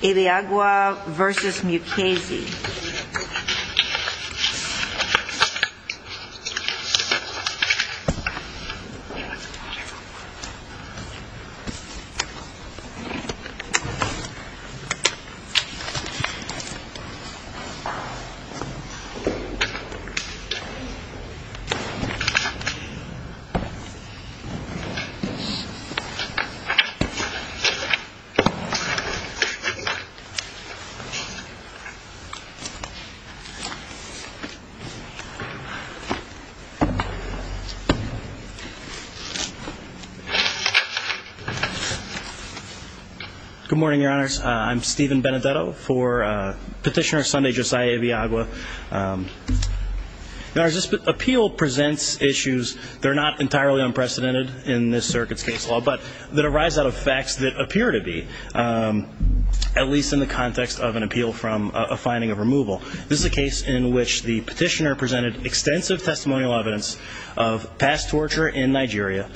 Ibeagwa v. Mukasey Good morning, your honors. I'm Stephen Benedetto for Petitioner Sunday Josiah Ibeagwa. Your honors, this appeal presents issues that are not entirely unprecedented in this circuit's case law, but that arise out of facts that appear to be. At least in the context of an appeal from a finding of removal. This is a case in which the petitioner presented extensive testimonial evidence of past torture in Nigeria,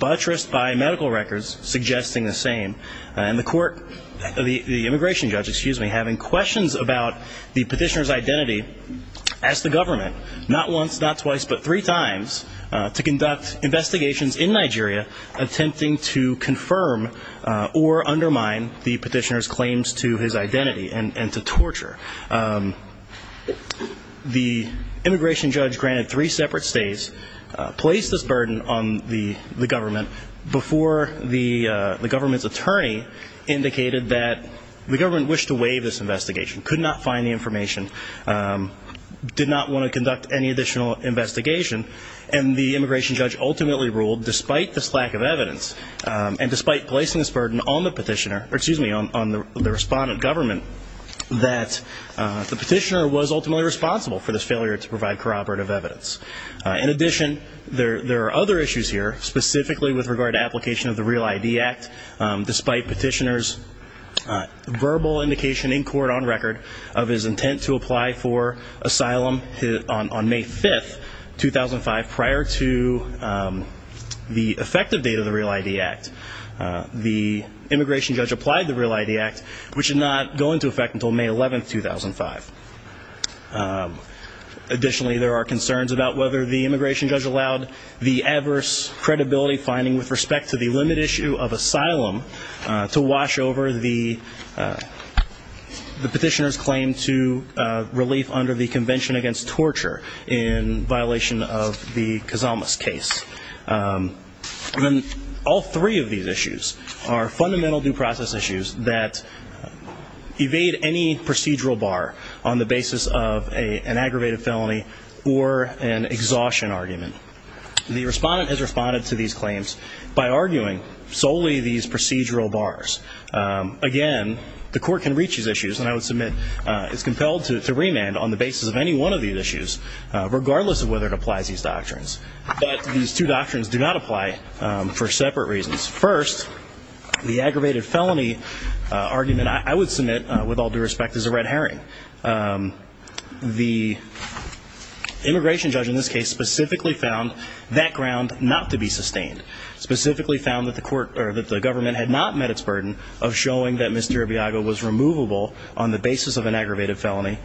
buttressed by medical records suggesting the same. And the immigration judge having questions about the petitioner's identity asked the government not once, not twice, but three times to conduct investigations in Nigeria attempting to confirm or undermine the petitioner's claims to his identity and to torture. The immigration judge granted three separate stays, placed this burden on the government before the government's attorney indicated that the government wished to waive this investigation, could not find the information, did not want to conduct any additional investigation. And the immigration judge ultimately ruled, despite this lack of evidence, and despite placing this burden on the petitioner, excuse me, on the respondent government, that the petitioner was ultimately responsible for this failure to provide corroborative evidence. In addition, there are other issues here, specifically with regard to application of the Real ID Act, despite petitioner's verbal indication in court on record of his intent to apply for asylum on May 5th, 2005, prior to the effective date of the Real ID Act. The immigration judge applied to the Real ID Act, which did not go into effect until May 11th, 2005. Additionally, there are concerns about whether the immigration judge allowed the adverse credibility finding with respect to the limit issue of asylum to wash over the petitioner's claim to relief under the Convention Against Torture in violation of the Kazamas case. All three of these issues are fundamental due process issues that evade any procedural bar on the basis of an aggravated felony or an exhaustion argument. The respondent has responded to these claims by arguing solely these procedural bars. Again, the court can reach these issues, and I would submit it's compelled to remand on the basis of any one of these issues, regardless of whether it applies these doctrines. But these two doctrines do not apply for separate reasons. First, the aggravated felony argument I would submit, with all due respect, is a red herring. The immigration judge in this case specifically found that ground not to be sustained. Specifically found that the government had not met its burden of showing that Mr. Urbiago was removable on the basis of an aggravated felony.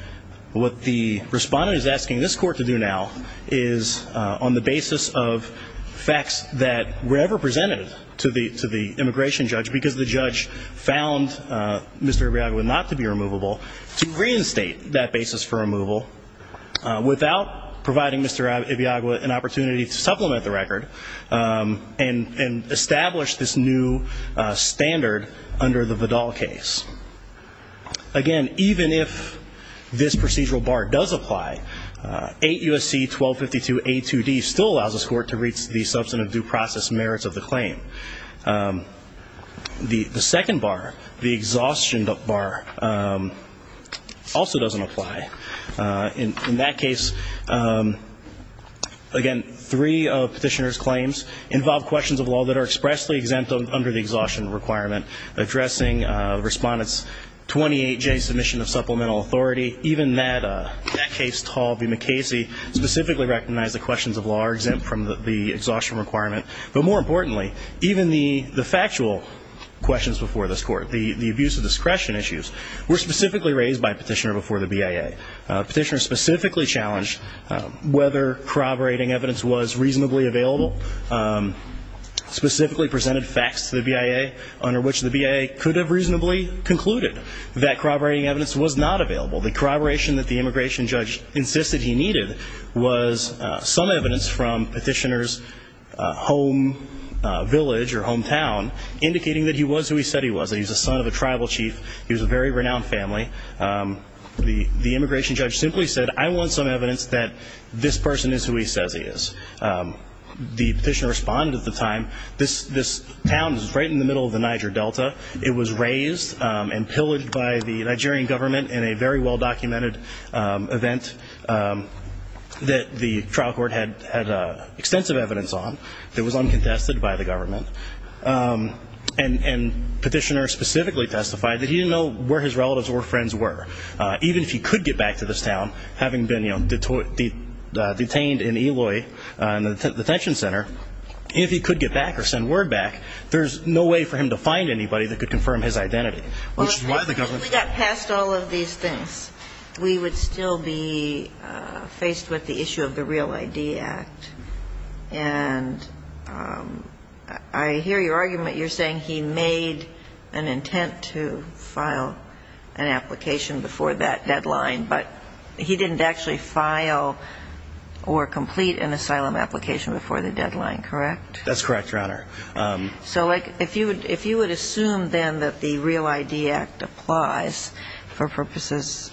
What the respondent is asking this court to do now is, on the basis of facts that were ever presented to the immigration judge, because the judge found Mr. Urbiago not to be removable, to reinstate that basis for removal without providing Mr. Urbiago an opportunity to supplement the record and establish this new standard under the Vidal case. Again, even if this procedural bar does apply, 8 U.S.C. 1252a2d still allows this court to reach the substantive due process merits of the claim. The second bar, the exhaustion bar, also doesn't apply. In that case, again, three of petitioner's claims involve questions of law that are expressly exempt under the exhaustion requirement, addressing respondent's 28-J submission of supplemental authority. Even that case, Tall v. McKasey, specifically recognized the questions of law are exempt from the exhaustion requirement. But more importantly, even the factual questions before this court, the abuse of discretion issues, were specifically raised by petitioner before the BIA. Petitioner specifically challenged whether corroborating evidence was reasonably available. Specifically presented facts to the BIA, under which the BIA could have reasonably concluded that corroborating evidence was not available. The corroboration that the immigration judge insisted he needed was some evidence from petitioner's home village or hometown, indicating that he was who he said he was, that he was the son of a tribal chief, he was a very renowned family. The immigration judge simply said, I want some evidence that this person is who he says he is. The petitioner responded at the time, this town is right in the middle of the Niger Delta. It was raised and pillaged by the Nigerian government in a very well-documented event that the trial court had extensive evidence on. It was uncontested by the government. And petitioner specifically testified that he didn't know where his relatives or friends were. Even if he could get back to this town, having been, you know, detained in Eloy, in the detention center, if he could get back or send word back, there's no way for him to find anybody that could confirm his identity. Which is why the government... If we got past all of these things, we would still be faced with the issue of the Real ID Act. And I hear your argument. You're saying he made an intent to file an application before that deadline, but he didn't actually file or complete an asylum application before the deadline, correct? That's correct, Your Honor. So if you would assume then that the Real ID Act applies for purposes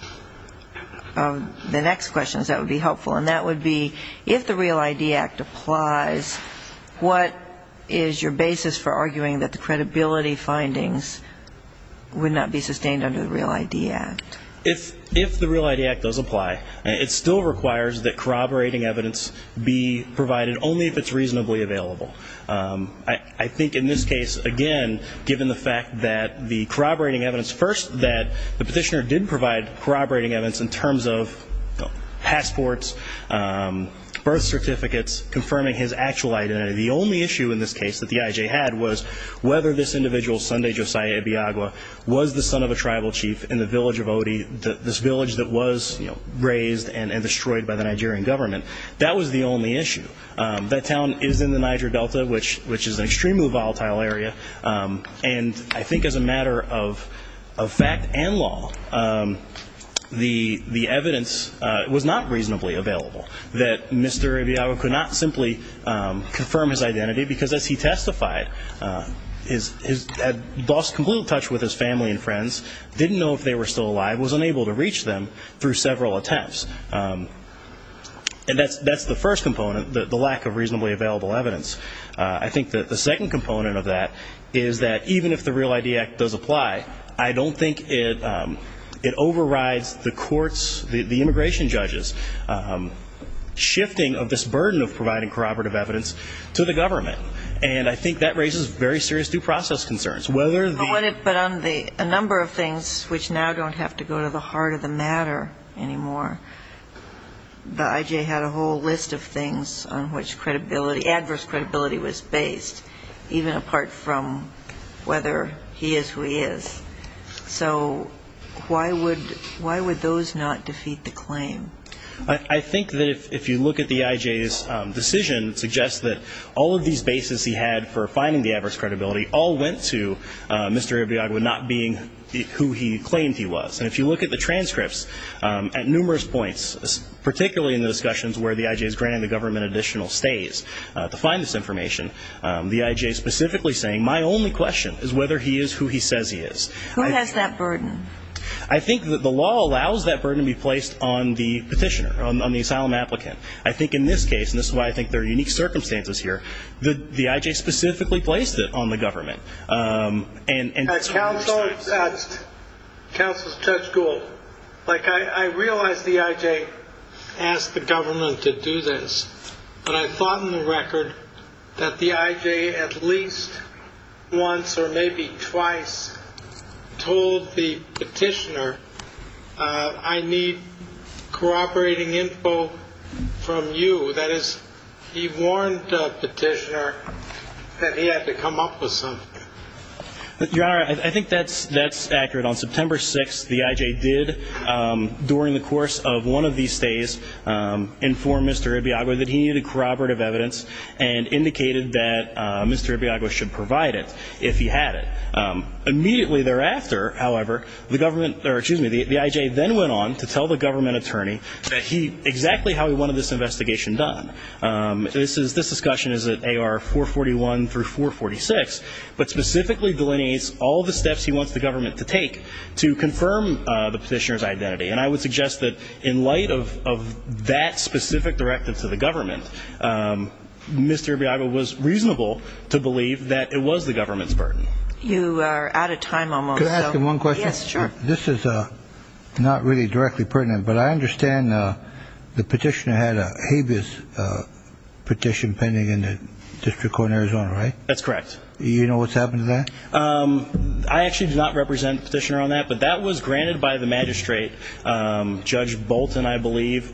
of the next questions, that would be helpful. And that would be, if the Real ID Act applies, what is your basis for arguing that the credibility findings would not be sustained under the Real ID Act? If the Real ID Act does apply, it still requires that corroborating evidence be provided only if it's reasonably available. I think in this case, again, given the fact that the corroborating evidence, the petitioner did provide corroborating evidence in terms of passports, birth certificates, confirming his actual identity. The only issue in this case that the IJ had was whether this individual, Sunday Josiah Ibiagwa, was the son of a tribal chief in the village of Odi, this village that was razed and destroyed by the Nigerian government. That was the only issue. That town is in the Niger Delta, which is an extremely volatile area. And I think as a matter of fact and law, the evidence was not reasonably available, that Mr. Ibiagwa could not simply confirm his identity because as he testified, had lost complete touch with his family and friends, didn't know if they were still alive, was unable to reach them through several attempts. And that's the first component, the lack of reasonably available evidence. I think that the second component of that is that even if the Real ID Act does apply, I don't think it overrides the courts, the immigration judges, shifting of this burden of providing corroborative evidence to the government. And I think that raises very serious due process concerns. Whether the ---- But on a number of things which now don't have to go to the heart of the matter anymore, the I.J. had a whole list of things on which credibility, adverse credibility was based, even apart from whether he is who he is. So why would those not defeat the claim? I think that if you look at the I.J.'s decision, it suggests that all of these bases he had for finding the adverse credibility all went to Mr. Ibiagwa not being who he claimed he was. And if you look at the transcripts at numerous points, particularly in the discussions where the I.J. is granting the government additional stays to find this information, the I.J. specifically saying my only question is whether he is who he says he is. Who has that burden? I think that the law allows that burden to be placed on the petitioner, on the asylum applicant. I think in this case, and this is why I think there are unique circumstances here, the I.J. specifically placed it on the government. Counsel Judge Gould, I realize the I.J. asked the government to do this, but I thought in the record that the I.J. at least once or maybe twice told the petitioner, I need corroborating info from you. That is, he warned the petitioner that he had to come up with something. Your Honor, I think that's accurate. On September 6th, the I.J. did, during the course of one of these stays, inform Mr. Ibiagwa that he needed corroborative evidence and indicated that Mr. Ibiagwa should provide it if he had it. Immediately thereafter, however, the I.J. then went on to tell the government attorney that exactly how he wanted this investigation done. This discussion is at AR 441 through 446, but specifically delineates all the steps he wants the government to take to confirm the petitioner's identity. And I would suggest that in light of that specific directive to the government, Mr. Ibiagwa was reasonable to believe that it was the government's burden. You are out of time almost. Could I ask him one question? Yes, sure. This is not really directly pertinent, but I understand the petitioner had a habeas petition pending in the District Court in Arizona, right? That's correct. Do you know what's happened to that? I actually do not represent the petitioner on that, but that was granted by the magistrate. Judge Bolton, I believe,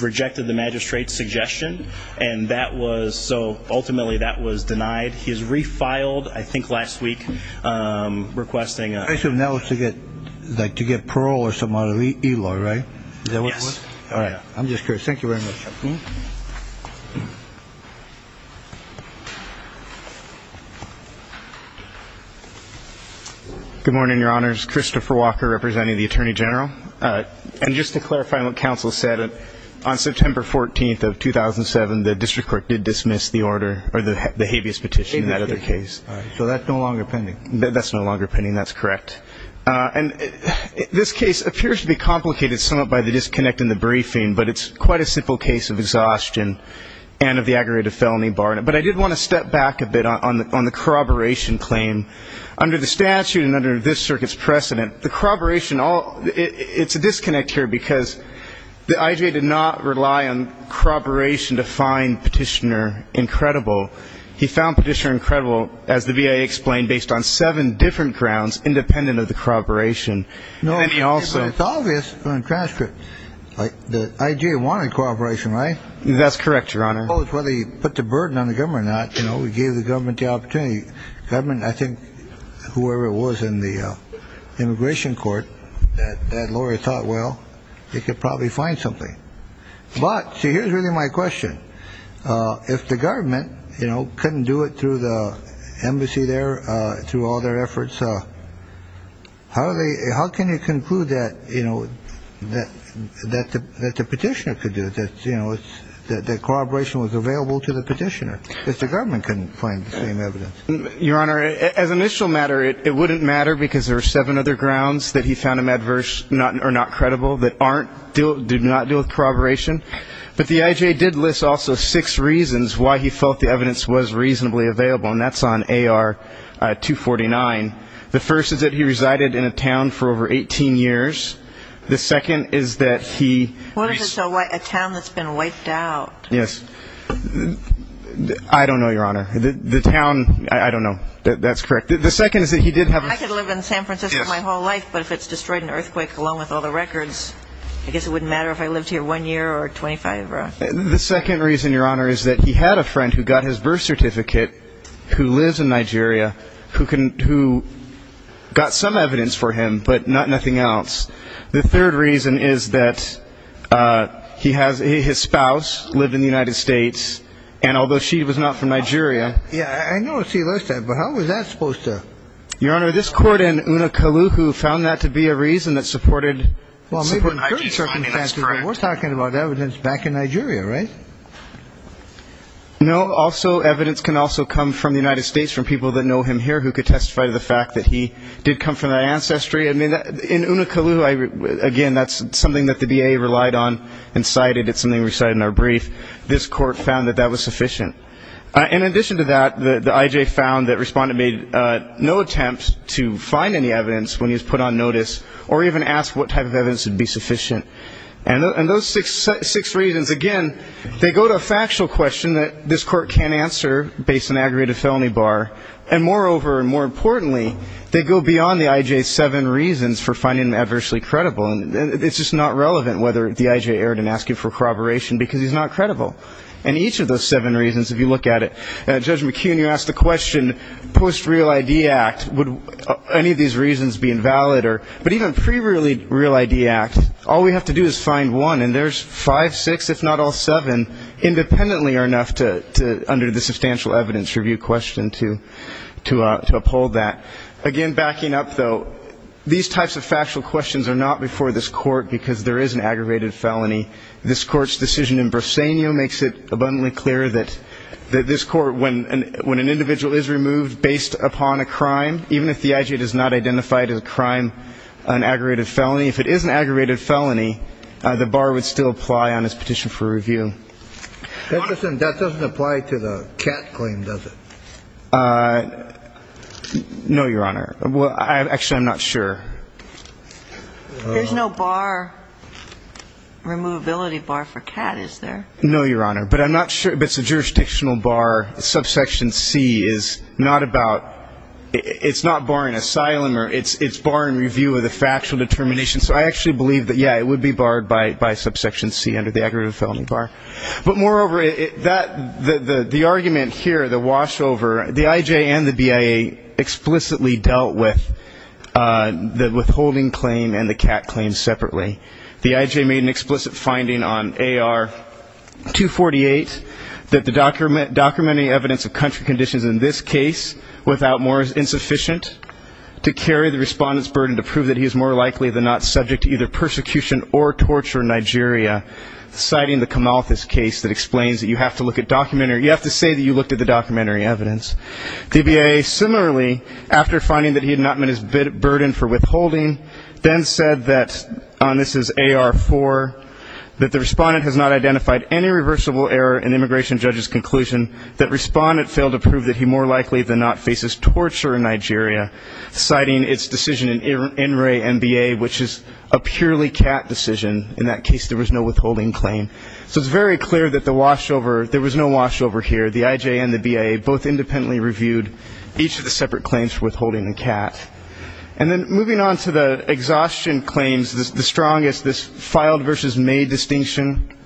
rejected the magistrate's suggestion, and that was so ultimately that was denied. He's refiled, I think last week, requesting a like to get parole or something out of e-law, right? Yes. All right. I'm just curious. Thank you very much. Good morning, Your Honors. Christopher Walker representing the Attorney General. And just to clarify what counsel said, on September 14th of 2007 the District Court did dismiss the order, or the habeas petition in that other case. So that's no longer pending. That's no longer pending. That's correct. And this case appears to be complicated somewhat by the disconnect in the briefing, but it's quite a simple case of exhaustion and of the aggravated felony bar. But I did want to step back a bit on the corroboration claim. Under the statute and under this circuit's precedent, the corroboration, it's a disconnect here because the IJA did not rely on corroboration to find petitioner incredible. He found petitioner incredible, as the VA explained, based on seven different grounds independent of the corroboration. No, it's obvious in the transcript. The IJA wanted corroboration, right? That's correct, Your Honor. Whether he put the burden on the government or not, you know, he gave the government the opportunity. Government, I think whoever it was in the immigration court, that lawyer thought, well, they could probably find something. But, see, here's really my question. If the government, you know, couldn't do it through the embassy there, through all their efforts, how can you conclude that, you know, that the petitioner could do it, that, you know, that corroboration was available to the petitioner, if the government couldn't find the same evidence? Your Honor, as an initial matter, it wouldn't matter because there were seven other grounds that he found him adverse or not credible that did not deal with corroboration. But the IJA did list also six reasons why he felt the evidence was reasonably available, and that's on AR-249. The first is that he resided in a town for over 18 years. The second is that he ---- What is a town that's been wiped out? Yes. I don't know, Your Honor. The town, I don't know. That's correct. The second is that he did have a ---- I could live in San Francisco my whole life, but if it's destroyed in an earthquake along with all the records, I guess it wouldn't matter if I lived here one year or 25. The second reason, Your Honor, is that he had a friend who got his birth certificate who lives in Nigeria who got some evidence for him but nothing else. The third reason is that he has a ---- his spouse lived in the United States, and although she was not from Nigeria ---- Yeah, I noticed he left that, but how was that supposed to ---- Your Honor, this court in Unakaluhu found that to be a reason that supported ---- Well, maybe in current circumstances, but we're talking about evidence back in Nigeria, right? No. Also, evidence can also come from the United States, from people that know him here who could testify to the fact that he did come from that ancestry. I mean, in Unakaluhu, again, that's something that the DA relied on and cited. It's something we cited in our brief. This court found that that was sufficient. In addition to that, the I.J. found that Respondent made no attempt to find any evidence when he was put on notice or even ask what type of evidence would be sufficient. And those six reasons, again, they go to a factual question that this court can't answer based on aggregated felony bar, and moreover and more importantly, they go beyond the I.J.'s seven reasons for finding him adversely credible. It's just not relevant whether the I.J. erred in asking for corroboration because he's not credible. And each of those seven reasons, if you look at it, Judge McKeon, you asked the question, post-Real ID Act, would any of these reasons be invalid? But even pre-Real ID Act, all we have to do is find one, and there's five, six, if not all seven, independently are enough under the substantial evidence review question to uphold that. Again, backing up, though, these types of factual questions are not before this court because there is an aggravated felony. This Court's decision in Bresenio makes it abundantly clear that this Court, when an individual is removed based upon a crime, even if the I.J. does not identify it as a crime, an aggravated felony, if it is an aggravated felony, the bar would still apply on his petition for review. Honest, that doesn't apply to the cat claim, does it? No, Your Honor. Actually, I'm not sure. There's no bar, removability bar for cat, is there? No, Your Honor. But I'm not sure if it's a jurisdictional bar, subsection C is not about ‑‑ it's not barring asylum or it's barring review of the factual determination. So I actually believe that, yeah, it would be barred by subsection C under the aggravated felony bar. But moreover, the argument here, the washover, the I.J. and the BIA explicitly dealt with the withholding claim and the cat claim separately. The I.J. made an explicit finding on AR 248 that the documenting evidence of country conditions in this case, without more is insufficient to carry the respondent's burden to prove that he is more likely than not subject to either persecution or torture in Nigeria, citing the Camalthus case that explains that you have to look at documentary ‑‑ you have to say that you looked at the documentary evidence. The BIA similarly, after finding that he had not met his burden for withholding, then said that, and this is AR 4, that the respondent has not identified any reversible error in the immigration judge's conclusion that respondent failed to prove that he more likely than not faces torture in Nigeria, citing its decision in NRA and BIA, which is a purely cat decision. In that case, there was no withholding claim. So it's very clear that the washover, there was no washover here. The I.J. and the BIA both independently reviewed each of the separate claims for withholding the cat. And then moving on to the exhaustion claims, the strongest, this filed versus made distinction,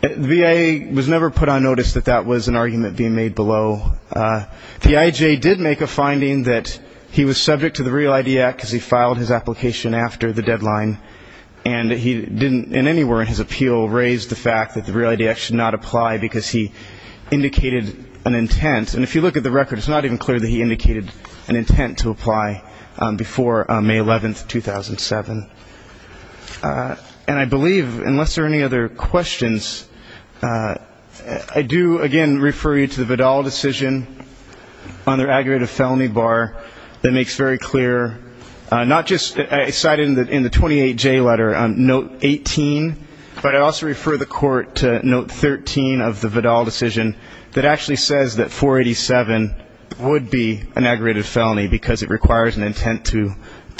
the BIA was never put on notice that that was an argument being made below. The I.J. did make a finding that he was subject to the Real ID Act, because he filed his application after the deadline. And he didn't in anywhere in his appeal raise the fact that the Real ID Act should not apply, because he indicated an intent. And if you look at the record, it's not even clear that he indicated an intent to apply before May 11, 2007. And I believe, unless there are any other questions, I do, again, refer you to the Vidal decision on their aggregated felony bar that makes very clear, not just cited in the 28J letter, note 18, but I also refer the Court to note 13 of the Vidal decision that actually says that 487 would be an aggregated felony, because it requires an intent to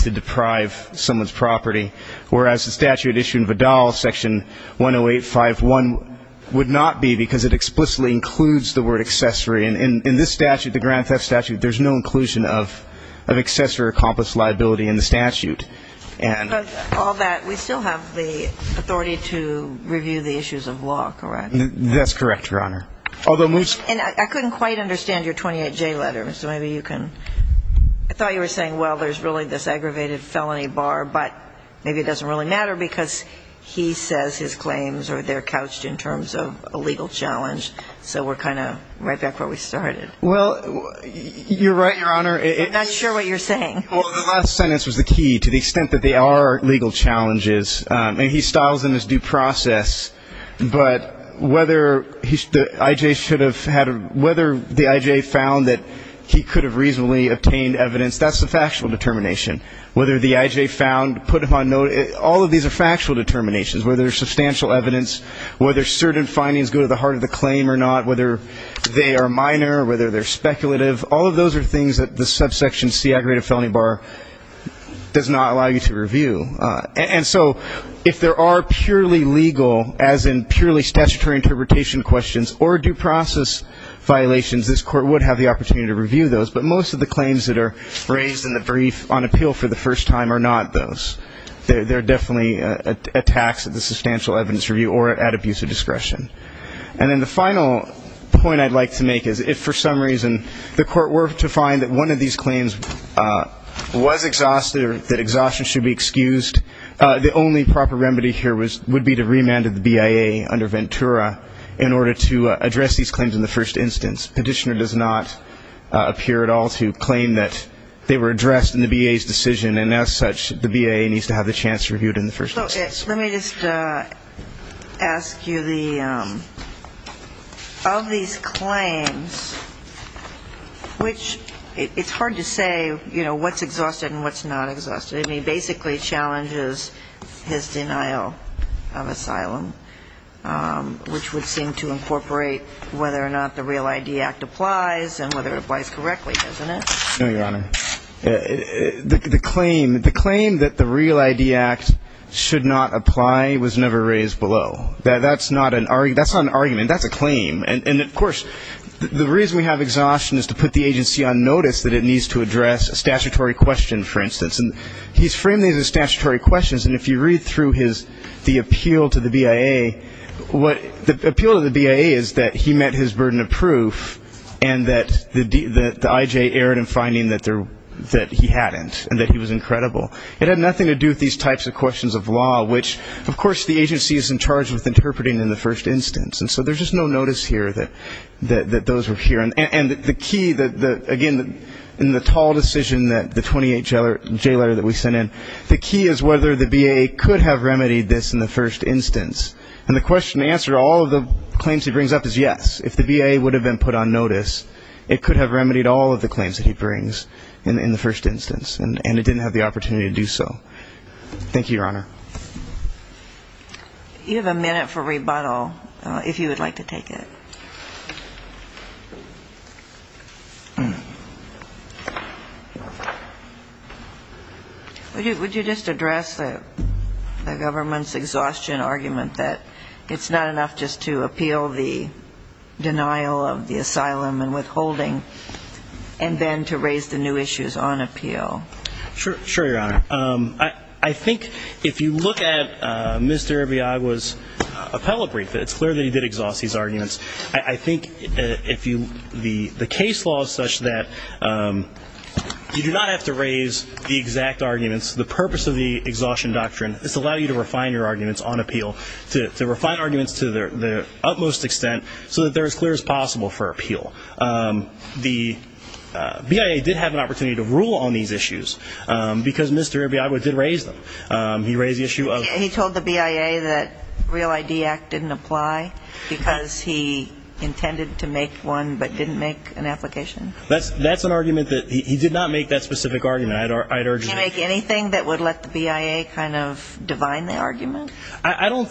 deprive someone's property, whereas the statute issued in Vidal, Section 108.5.1, would not be, because it explicitly includes the word accessory. And in this statute, the Grand Theft Statute, there's no inclusion of accessory or accomplice liability in the statute. And all that, we still have the authority to review the issues of law, correct? That's correct, Your Honor. And I couldn't quite understand your 28J letter, so maybe you can. I thought you were saying, well, there's really this aggravated felony bar, but maybe it doesn't really matter, because he says his claims are there couched in terms of a legal challenge. So we're kind of right back where we started. Well, you're right, Your Honor. I'm not sure what you're saying. Well, the last sentence was the key, to the extent that there are legal challenges. And he styles them as due process. But whether the IJ found that he could have reasonably obtained evidence, that's a factual determination. Whether the IJ found, put him on note, all of these are factual determinations. Whether there's substantial evidence, whether certain findings go to the heart of the claim or not, whether they are minor or whether they're speculative, all of those are things that the subsection C, the aggravated felony bar, does not allow you to review. And so if there are purely legal, as in purely statutory interpretation questions, or due process violations, this Court would have the opportunity to review those. But most of the claims that are raised in the brief on appeal for the first time are not those. They're definitely attacks at the substantial evidence review or at abuse of discretion. And then the final point I'd like to make is if, for some reason, the Court were to find that one of these claims was exhausted or that exhaustion should be excused, the only proper remedy here would be to remand the BIA under Ventura in order to address these claims in the first instance. Petitioner does not appear at all to claim that they were addressed in the BIA's decision. And as such, the BIA needs to have the chance to review it in the first instance. So let me just ask you, of these claims, which it's hard to say, you know, what's exhausted and what's not exhausted. I mean, basically it challenges his denial of asylum, which would seem to incorporate whether or not the REAL ID Act applies and whether it applies correctly, doesn't it? No, Your Honor. The claim that the REAL ID Act should not apply was never raised below. That's not an argument. That's a claim. And, of course, the reason we have exhaustion is to put the agency on notice that it needs to address a statutory question, for instance. And he's framed these as statutory questions, and if you read through the appeal to the BIA, the appeal to the BIA is that he met his burden of proof, and that the IJ erred in finding that he hadn't and that he was incredible. It had nothing to do with these types of questions of law, which, of course, the agency is in charge of interpreting in the first instance. And so there's just no notice here that those were here. And the key, again, in the tall decision that the 28J letter that we sent in, the key is whether the BIA could have remedied this in the first instance. And the question to answer all of the claims he brings up is yes. If the BIA would have been put on notice, it could have remedied all of the claims that he brings in the first instance, and it didn't have the opportunity to do so. Thank you, Your Honor. You have a minute for rebuttal, if you would like to take it. Would you just address the government's exhaustion argument that it's not enough just to appeal the denial of the asylum and withholding, and then to raise the new issues on appeal? Sure, Your Honor. I think if you look at Mr. Arriaga's appellate brief, it's clear that he did exhaust these arguments. I think the case law is such that you do not have to raise the exact arguments. The purpose of the exhaustion doctrine is to allow you to refine your arguments on appeal, to refine arguments to the utmost extent so that they're as clear as possible for appeal. The BIA did have an opportunity to rule on these issues, because Mr. Arriaga did raise them. He raised the issue of the BIA. He told the BIA that Real ID Act didn't apply because he intended to make one but didn't make an application? That's an argument that he did not make that specific argument. He didn't make anything that would let the BIA kind of divine the argument? I don't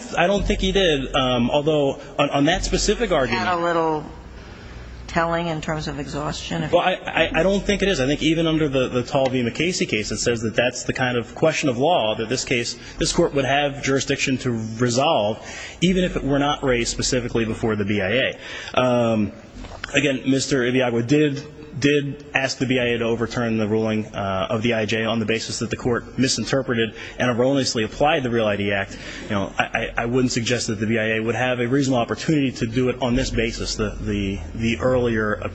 think he did, although on that specific argument he did. Is that a little telling in terms of exhaustion? I don't think it is. I think even under the Talvey-McCasey case it says that that's the kind of question of law that this case, this court would have jurisdiction to resolve even if it were not raised specifically before the BIA. Again, Mr. Arriaga did ask the BIA to overturn the ruling of the IJ on the basis that the court misinterpreted and erroneously applied the Real ID Act. I wouldn't suggest that the BIA would have a reasonable opportunity to do it on this basis, the earlier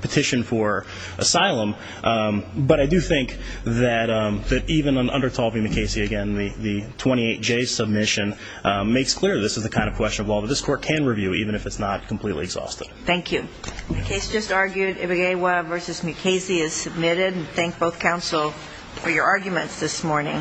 petition for asylum. But I do think that even under Talvey-McCasey, again, the 28J submission makes clear this is the kind of question of law that this court can review even if it's not completely exhausted. Thank you.